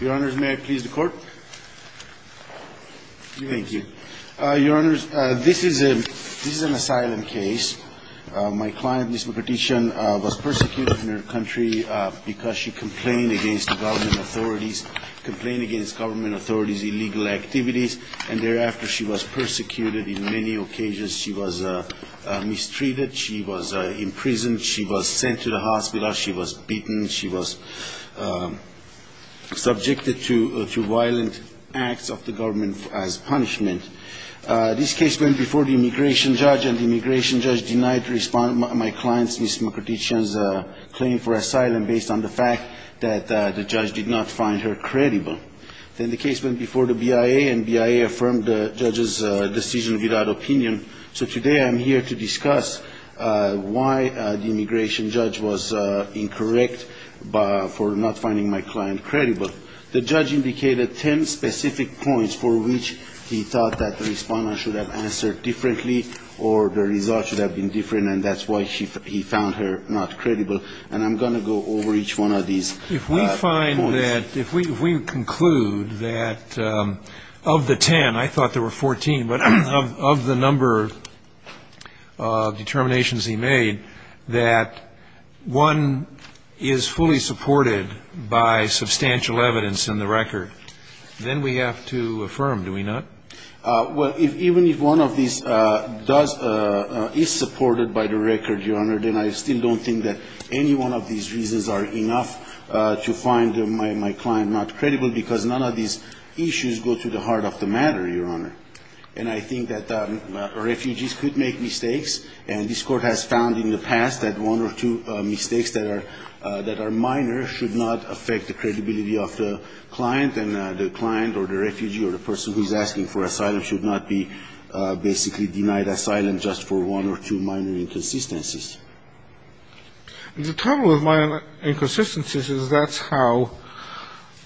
Your Honor, may I please the court? Thank you. Your Honor, this is an asylum case. My client, Ms. Mkrtchyan, was persecuted in her country because she complained against the government authorities, complained against government authorities' illegal activities, and thereafter she was persecuted in many occasions. She was mistreated, she was imprisoned, she was sent to the hospital, she was beaten, she was subjected to violent acts of the government as punishment. This case went before the immigration judge, and the immigration judge denied my client, Ms. Mkrtchyan's, claim for asylum based on the fact that the judge did not find her credible. Then the case went before the BIA, and the BIA affirmed the judge's decision without opinion. So today I'm here to discuss why the immigration judge was incorrect, why the immigration judge for not finding my client credible. The judge indicated ten specific points for which he thought that the respondent should have answered differently, or the result should have been different, and that's why he found her not credible. And I'm going to go over each one of these points. If we conclude that of the ten, I thought there were fourteen, but of the number of determinations he made, that one is fully supported by substantial evidence in the record, then we have to affirm, do we not? Well, even if one of these does, is supported by the record, Your Honor, then I still don't think that any one of these reasons are enough to find my client not credible, because none of these issues go to the heart of the matter, Your Honor. And I think that refugees could make mistakes, and this Court has found in the past that one or two mistakes that are minor should not affect the credibility of the client, and the client or the refugee or the person who's asking for asylum. should not be basically denied asylum just for one or two minor inconsistencies. The trouble with minor inconsistencies is that's how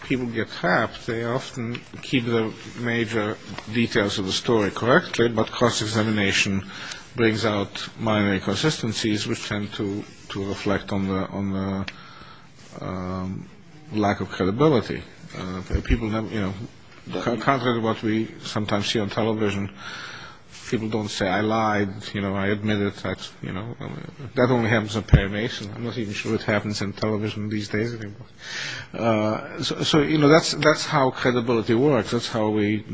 people get trapped. They often keep the major details of the story correctly, but cross-examination brings out minor inconsistencies which tend to reflect on the lack of credibility. People have, you know, contrary to what we sometimes see on television, people don't say, I lied, you know, I admitted, you know, that only happens on parimation. I'm not even sure what happens on television these days anymore. So, you know, that's how credibility works. That's how we...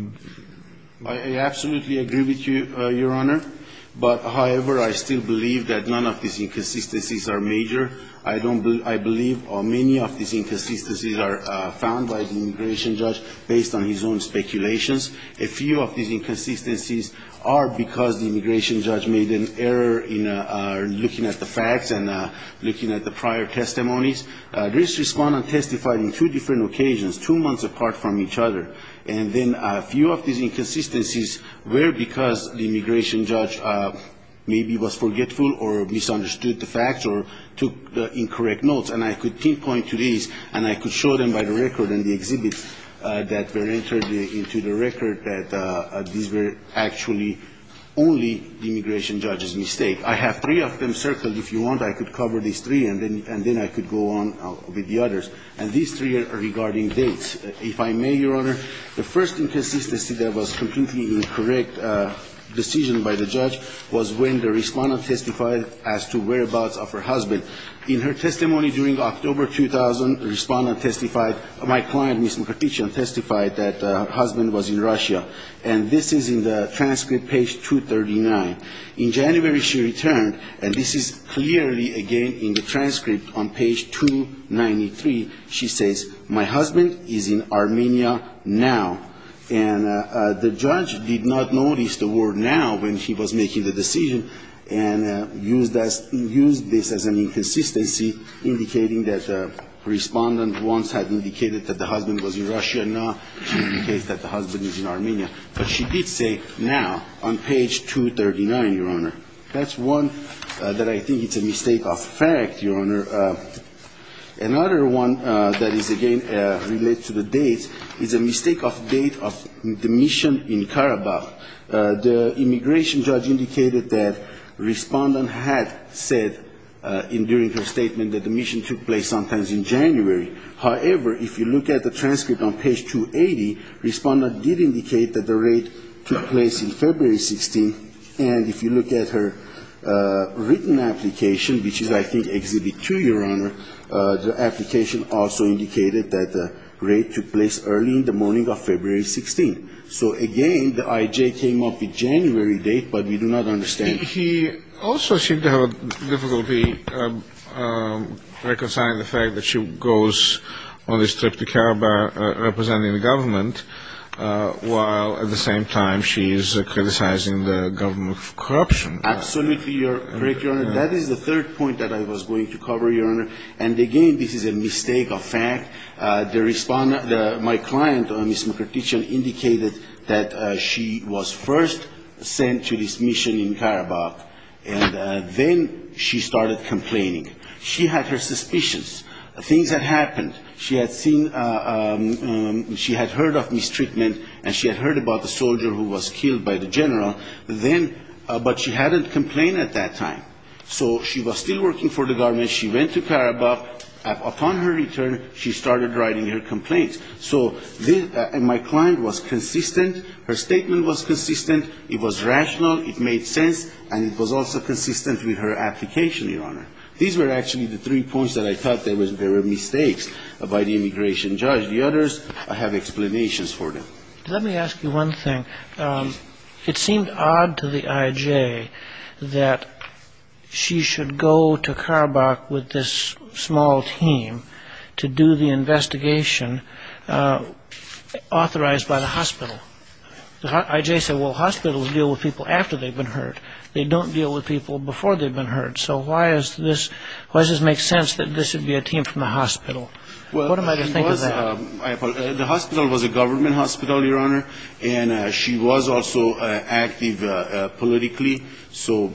based on his own speculations. A few of these inconsistencies are because the immigration judge made an error in looking at the facts and looking at the prior testimonies. This respondent testified on two different occasions, two months apart from each other, and then a few of these inconsistencies were because the immigration judge maybe was forgetful or misunderstood the facts or took incorrect notes. And I could pinpoint to these and I could show them by the record and the exhibits that were entered into the record that these were actually only the immigration judge's mistake. I have three of them circled. If you want, I could cover these three and then I could go on with the others. And these three are regarding dates. If I may, Your Honor, the first inconsistency that was completely incorrect decision by the judge was when the respondent testified as to whereabouts of her husband. In her testimony during October 2000, the respondent testified, my client testified that her husband was in Russia. And this is in the transcript, page 239. In January she returned, and this is clearly again in the transcript on page 293. She says, my husband is in Armenia now. And the judge did not notice the word now when he was making the decision and used this as an interpretation. So this is an inconsistency indicating that the respondent once had indicated that the husband was in Russia. Now she indicates that the husband is in Armenia. But she did say now on page 239, Your Honor. That's one that I think is a mistake of fact, Your Honor. Another one that is again related to the date is a mistake of date of the mission in Karabakh. The immigration judge indicated that respondent had said during her statement that the mission took place sometime in January. However, if you look at the transcript on page 280, respondent did indicate that the raid took place in February 16th. And if you look at her written application, which is I think Exhibit 2, Your Honor, the application also indicated that the raid took place early in the morning of February 16th. So again, the IJ came up with January date, but we do not understand. He also seemed to have difficulty reconciling the fact that she goes on this trip to Karabakh representing the government, while at the same time she is criticizing the government for corruption. Absolutely, Your Honor. That is the third point that I was going to cover, Your Honor. And again, this is a mistake of fact. My client, Ms. Mukherjee, indicated that she was first sent to this mission in Karabakh, and then she started complaining. She had her suspicions. Things had happened. She had seen, she had heard of mistreatment, and she had heard about the soldier who was killed by the general. But she hadn't complained at that time. So she was still working for the government. And when she went to Karabakh, upon her return, she started writing her complaints. So my client was consistent. Her statement was consistent. It was rational. It made sense. And it was also consistent with her application, Your Honor. These were actually the three points that I thought there were mistakes by the immigration judge. The others, I have explanations for them. Let me ask you one thing. It seemed odd to the IJ that she should go to Karabakh, but she did not. She went to Karabakh with this small team to do the investigation authorized by the hospital. The IJ said, well, hospitals deal with people after they've been hurt. They don't deal with people before they've been hurt. So why does this make sense that this would be a team from the hospital? What am I to think of that? The hospital was a government hospital, Your Honor, and she was also active politically. So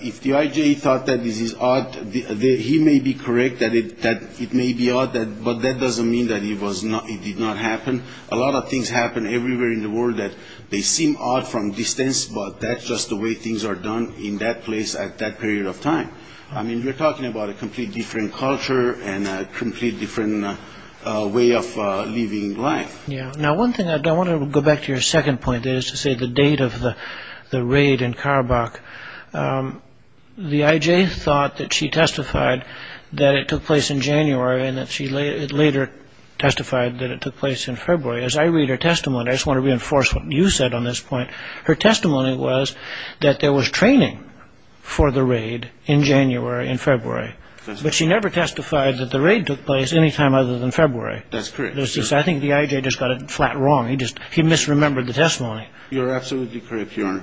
if the IJ thought that this is odd, he may be correct that it may be odd, but that doesn't mean that it did not happen. A lot of things happen everywhere in the world that they seem odd from distance, but that's just the way things are done in that place at that period of time. I mean, we're talking about a completely different culture and a completely different way of living life. Now, one thing I want to go back to your second point is to say the date of the raid in Karabakh. The IJ thought that she testified that it took place in January and that she later testified that it took place in February. As I read her testimony, I just want to reinforce what you said on this point. Her testimony was that there was training for the raid in January and February, but she never testified that the raid took place any time other than February. That's correct. I think the IJ just got it flat wrong. He misremembered the testimony. You're absolutely correct, Your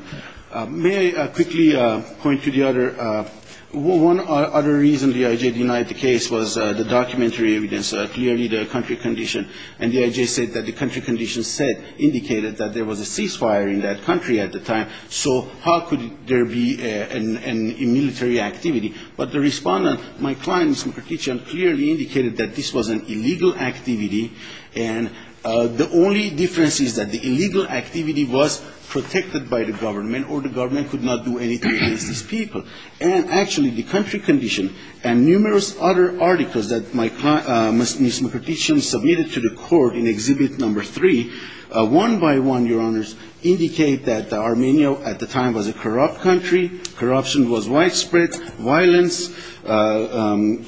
Honor. May I quickly point to one other reason the IJ denied the case was the documentary evidence, clearly the country condition, and the IJ said that the country condition said, indicated that there was a ceasefire in that country at the time, so how could there be a military activity? But the respondent, my client, Ms. Mkhartichyan, clearly indicated that this was an illegal activity, and the only difference is that the illegal activity was protected by the government, or the government could not do anything against these people. And actually, the country condition and numerous other articles that my client, Ms. Mkhartichyan, submitted to the court in Exhibit No. 3, one by one, Your Honors, indicate that Armenia at the time was a corrupt country. Corruption was widespread. Violence,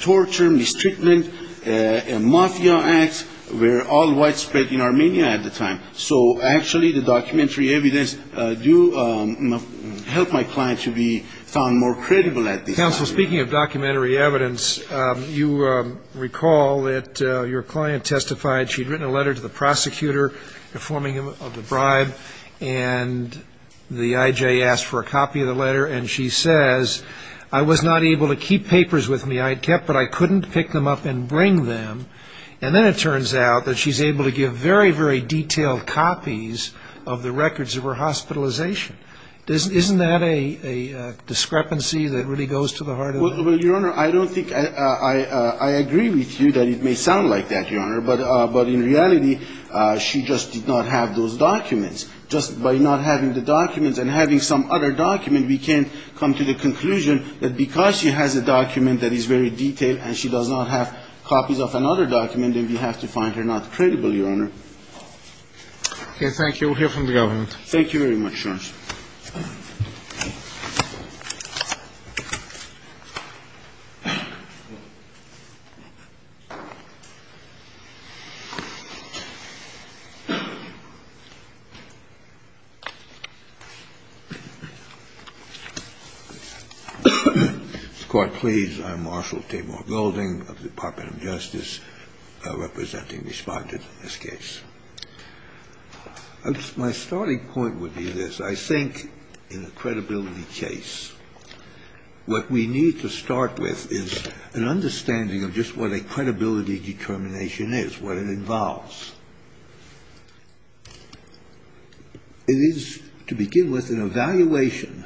torture, mistreatment, and Mafia acts were all widespread in Armenia at the time. So actually, the documentary evidence do help my client to be found more credible at this time. Counsel, speaking of documentary evidence, you recall that your client testified she'd written a letter to the prosecutor informing him of the bribe, and the IJ asked for a copy of the letter, and the IJ said, well, I don't know. And she says, I was not able to keep papers with me I had kept, but I couldn't pick them up and bring them. And then it turns out that she's able to give very, very detailed copies of the records of her hospitalization. Isn't that a discrepancy that really goes to the heart of the matter? Well, Your Honor, I don't think I agree with you that it may sound like that, Your Honor, but in reality, she just did not have those documents. Just by not having the documents and having some other document, we can come to the conclusion that because she has a document that is very detailed and she does not have copies of another document, then we have to find her not credible, Your Honor. Okay, thank you. We'll hear from the government. Mr. Court, please. I'm Marshall Tabor Golding of the Department of Justice, representing the Respondent in this case. My starting point would be this. I think in a credibility case, what we need to start with is an understanding of just what a credibility determination is, what it involves. It is, to begin with, an evaluation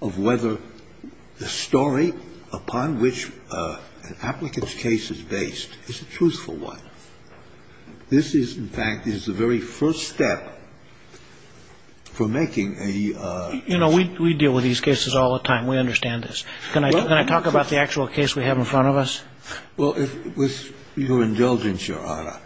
of whether the story upon which an applicant's case is based is a truthful one. This is, in fact, is the very first step for making a... You know, we deal with these cases all the time. We understand this. Can I talk about the actual case we have in front of us? Well, with your indulgence, Your Honor,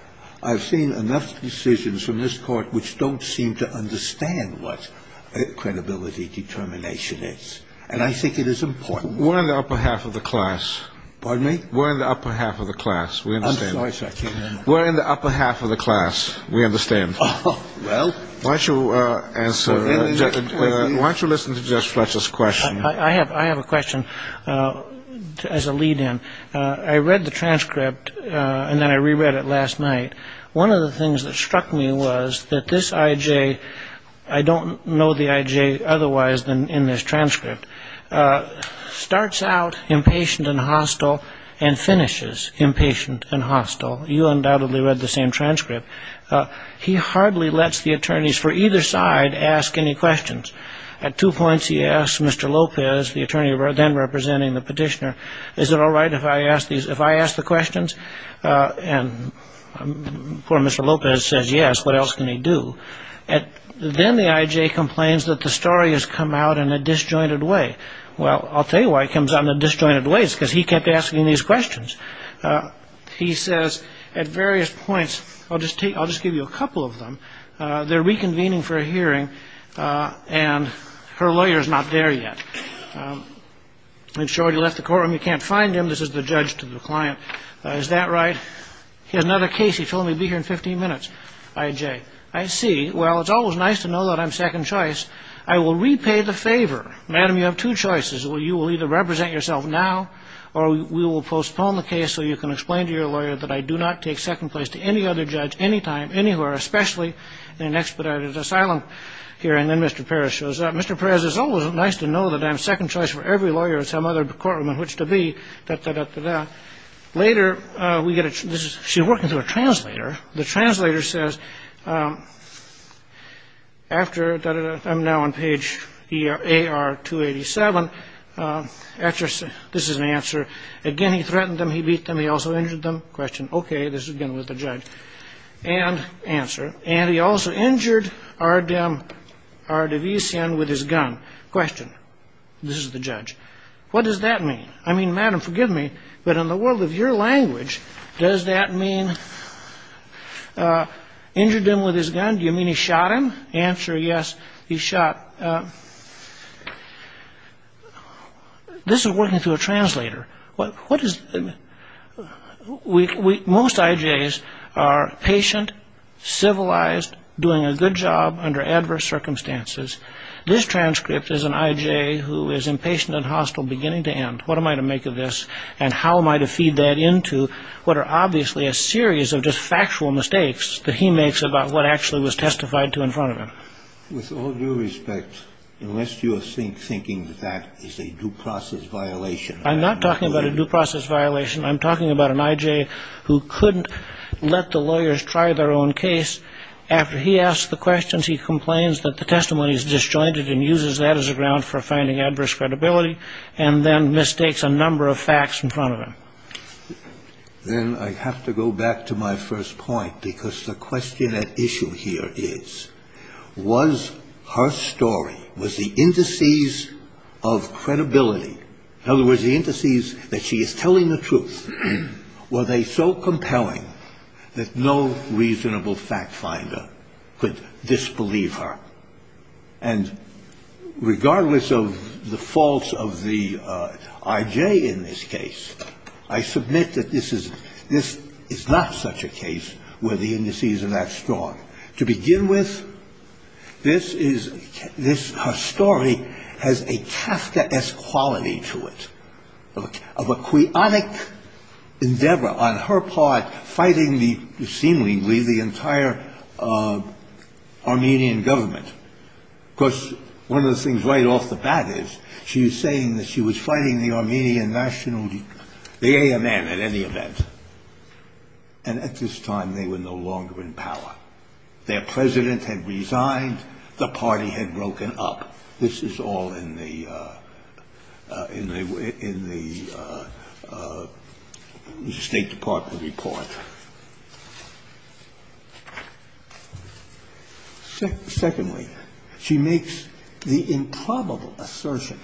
I've seen enough decisions from this Court which don't seem to understand what a credibility determination is, and I think it is important. We're in the upper half of the class. Pardon me? We're in the upper half of the class. We understand. Why don't you listen to Judge Fletcher's question? I have a question as a lead-in. I read the transcript, and then I reread it last night. One of the things that struck me was that this I.J. I don't know the I.J. otherwise than in this transcript, starts out impatient and hostile and finishes impatient and hostile. You undoubtedly read the same transcript. He hardly lets the attorneys for either side ask any questions. At two points, he asks Mr. Lopez, the attorney then representing the petitioner, is it all right if I ask the questions? And poor Mr. Lopez says yes. What else can he do? Then the I.J. complains that the story has come out in a disjointed way. Well, I'll tell you why it comes out in a disjointed way. It's because he kept asking these questions. He says at various points, I'll just give you a couple of them. They're reconvening for a hearing, and her lawyer's not there yet. I'm sure he left the courtroom. You can't find him. This is the judge to the client. Is that right? He has another case. He told me he'd be here in 15 minutes. I.J., I see. Well, it's always nice to know that I'm second choice. I will repay the favor. Madam, you have two choices. You will either represent yourself now or we will postpone the case so you can explain to your lawyer that I do not take second place to any other judge anytime, anywhere, especially in an expedited asylum hearing. Then Mr. Perez shows up. Mr. Perez, it's always nice to know that I'm second choice for every lawyer in some other courtroom in which to be. Later, we get a she's working through a translator. The translator says after that, I'm now on page here. A.R. 287. This is an answer. Again, he threatened them. He beat them. He also injured them. Question. OK. This is again with the judge and answer. And he also injured our dem are division with his gun. Question. This is the judge. What does that mean? I mean, Madam, forgive me. But in the world of your language, does that mean injured him with his gun? Do you mean he shot him? Answer. Yes, he shot. This is working through a translator. What is it? We most ideas are patient, civilized, doing a good job under adverse circumstances. This transcript is an idea who is impatient and hostile beginning to end. What am I to make of this? And how am I to feed that into what are obviously a series of just factual mistakes that he makes about what actually was testified to in front of him? With all due respect, unless you think thinking that is a due process violation, I'm not talking about a due process violation. I'm talking about an I.J. who couldn't let the lawyers try their own case after he asked the questions. He complains that the testimony is disjointed and uses that as a ground for finding adverse credibility. And then mistakes a number of facts in front of him. Then I have to go back to my first point, because the question at issue here is, was her story, was the indices of credibility, in other words, the indices that she is telling the truth, were they so compelling that no reasonable fact finder could disbelieve her? And regardless of the faults of the I.J. in this case, I submit that this is not such a case where the indices are that strong. To begin with, this is, this, her story has a Tafta-esque quality to it, of a quionic endeavor on her part fighting the, seemingly, the entire Armenian government. Of course, one of the things right off the bat is, she is saying that she was fighting the Armenian national, the AMN at any event. And at this time, they were no longer in power. Their president had resigned. The party had broken up. This is all in the, in the State Department report. Secondly, she makes the improbable assertion.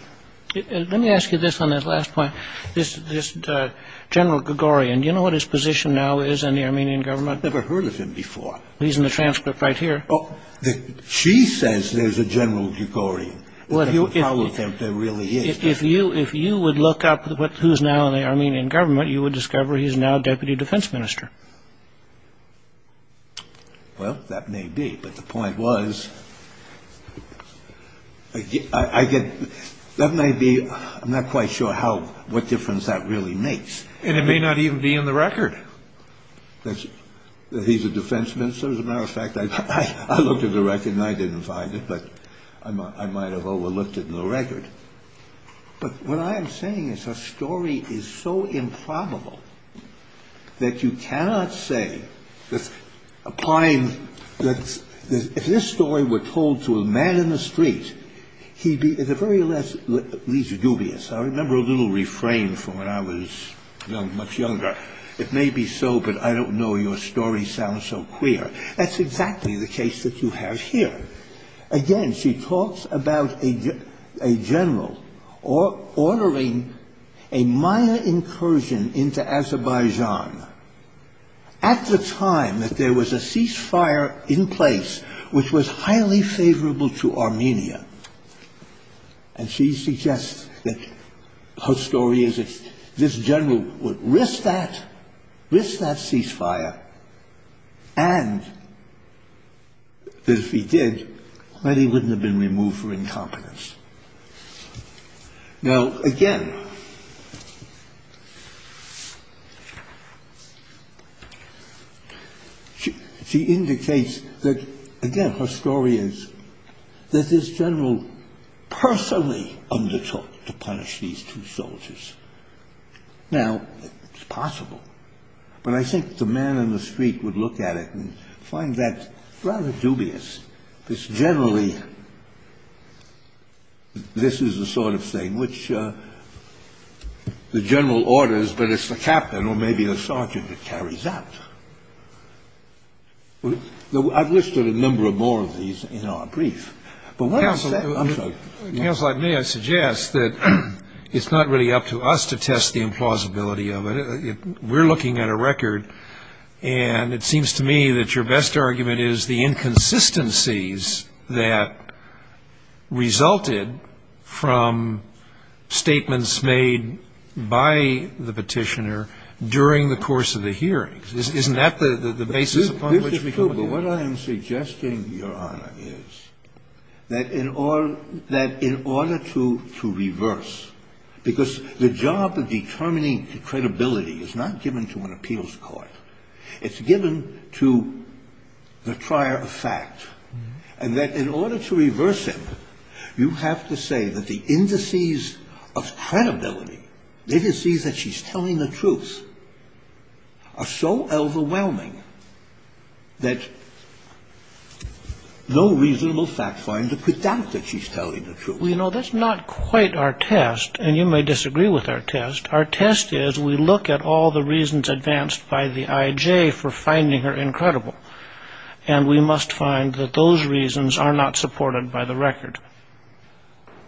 Let me ask you this on this last point. This, this General Gregorian, do you know what his position now is in the Armenian government? I've never heard of him before. He's in the transcript right here. She says there's a General Gregorian. If you, if you would look up who's now in the Armenian government, you would discover he's now Deputy Defense Minister. Well, that may be. But the point was, I get, that may be, I'm not quite sure how, what difference that really makes. And it may not even be in the record. He's a defense minister. As a matter of fact, I looked at the record and I didn't find it. But I might have overlooked it in the record. But what I am saying is her story is so improbable that you cannot say, applying, that if this story were told to a man in the street, he'd be at the very least dubious. I remember a little refrain from when I was much younger. It may be so, but I don't know your story sounds so queer. That's exactly the case that you have here. Again, she talks about a General ordering a Maya incursion into Azerbaijan at the time that there was a ceasefire in place, which was highly favorable to Armenia. And she suggests that her story is this General would risk that, risk that ceasefire. And if he did, that he wouldn't have been removed for incompetence. Now, again, she indicates that, again, her story is that this General personally undertook to punish these two soldiers. Now, it's possible. But I think the man in the street would look at it and find that rather dubious. It's generally this is the sort of thing which the General orders, but it's the Captain or maybe the Sergeant that carries out. I've listed a number of more of these in our brief. I'm sorry. Counsel, I may suggest that it's not really up to us to test the implausibility of it. We're looking at a record, and it seems to me that your best argument is the inconsistencies that resulted from statements made by the Petitioner during the course of the hearings. Isn't that the basis upon which we come to? What I am suggesting, Your Honor, is that in order to reverse, because the job of determining credibility is not given to an appeals court. It's given to the trier of fact. And that in order to reverse it, you have to say that the indices of credibility, indices that she's telling the truth, are so overwhelming that no reasonable fact finder could doubt that she's telling the truth. Well, you know, that's not quite our test. And you may disagree with our test. Our test is we look at all the reasons advanced by the IJ for finding her incredible. And we must find that those reasons are not supported by the record.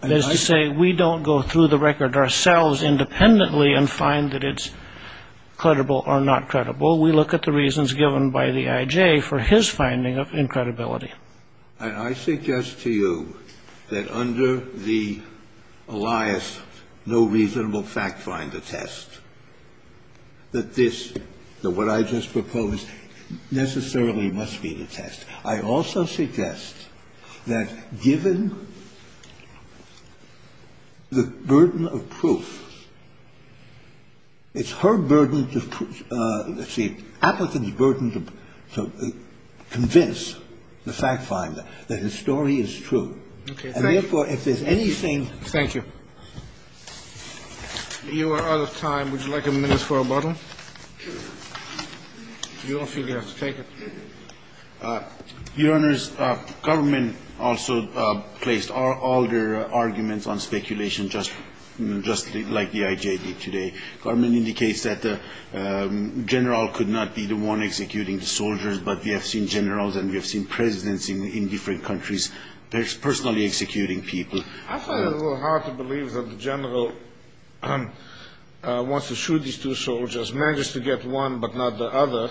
That is to say, we don't go through the record ourselves independently and find that it's credible or not credible. We look at the reasons given by the IJ for his finding of incredibility. And I suggest to you that under the Elias no reasonable fact finder test, that this, that what I just proposed, necessarily must be the test. I also suggest that given the burden of proof, it's her burden to prove, it's the applicant's burden to convince the fact finder that his story is true. And therefore, if there's anything. Thank you. You are out of time. Would you like a minute for a bottle? You don't feel you have to take it? Your Honors, government also placed all their arguments on speculation just like the IJ did today. Government indicates that the general could not be the one executing the soldiers. But we have seen generals and we have seen presidents in different countries personally executing people. I find it a little hard to believe that the general wants to shoot these two soldiers, manages to get one but not the other.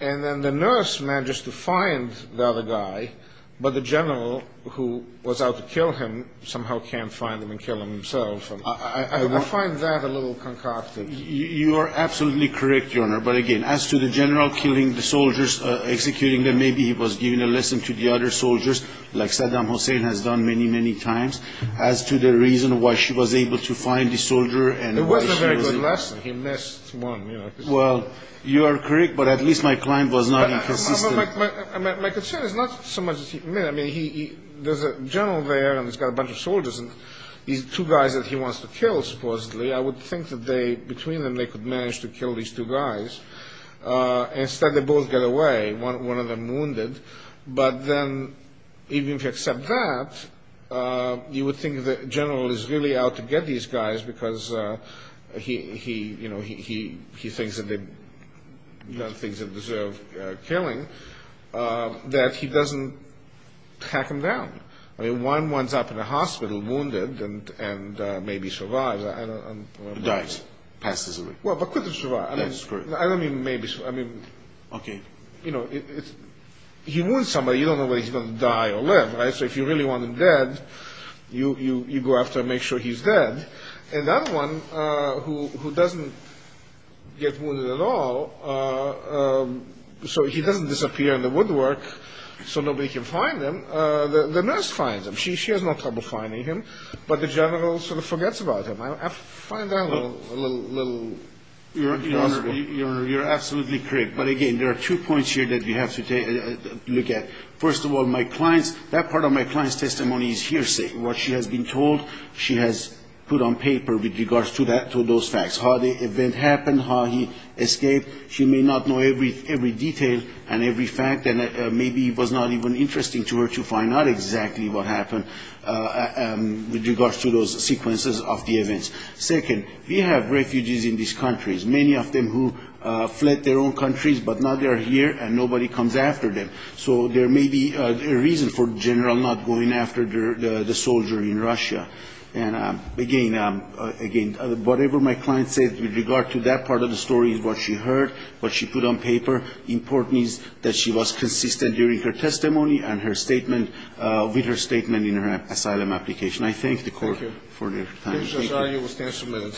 And then the nurse manages to find the other guy. But the general who was out to kill him somehow can't find him and kill him himself. I find that a little concocted. You are absolutely correct, Your Honor. But again, as to the general killing the soldiers, executing them, maybe he was giving a lesson to the other soldiers like Saddam Hussein has done many, many times. As to the reason why she was able to find the soldier. It was a very good lesson. He missed one. Well, you are correct. But at least my client was not inconsistent. My concern is not so much. I mean, there's a general there and he's got a bunch of soldiers and these two guys that he wants to kill supposedly. I would think that between them they could manage to kill these two guys. Instead, they both get away. One of them wounded. But then even if you accept that, you would think the general is really out to get these guys because he thinks that they deserve killing. That he doesn't tack them down. I mean, one winds up in a hospital wounded and maybe survives. Dies. Passes away. Well, but couldn't survive. That's correct. I don't mean maybe. Okay. You know, he wounds somebody. You don't know whether he's going to die or live. So if you really want him dead, you go after him, make sure he's dead. And that one who doesn't get wounded at all, so he doesn't disappear in the woodwork so nobody can find him. The nurse finds him. She has no trouble finding him. But the general sort of forgets about him. I find that a little. Your Honor, you're absolutely correct. But, again, there are two points here that we have to look at. First of all, my client's, that part of my client's testimony is hearsay. What she has been told she has put on paper with regards to those facts. How the event happened, how he escaped. She may not know every detail and every fact. And maybe it was not even interesting to her to find out exactly what happened with regards to those sequences of the events. Second, we have refugees in these countries, many of them who fled their own countries, but now they are here and nobody comes after them. So there may be a reason for the general not going after the soldier in Russia. And, again, whatever my client said with regard to that part of the story is what she heard, what she put on paper. Importantly, that she was consistent during her testimony and her statement, with her statement in her asylum application. I thank the Court for their time. Thank you.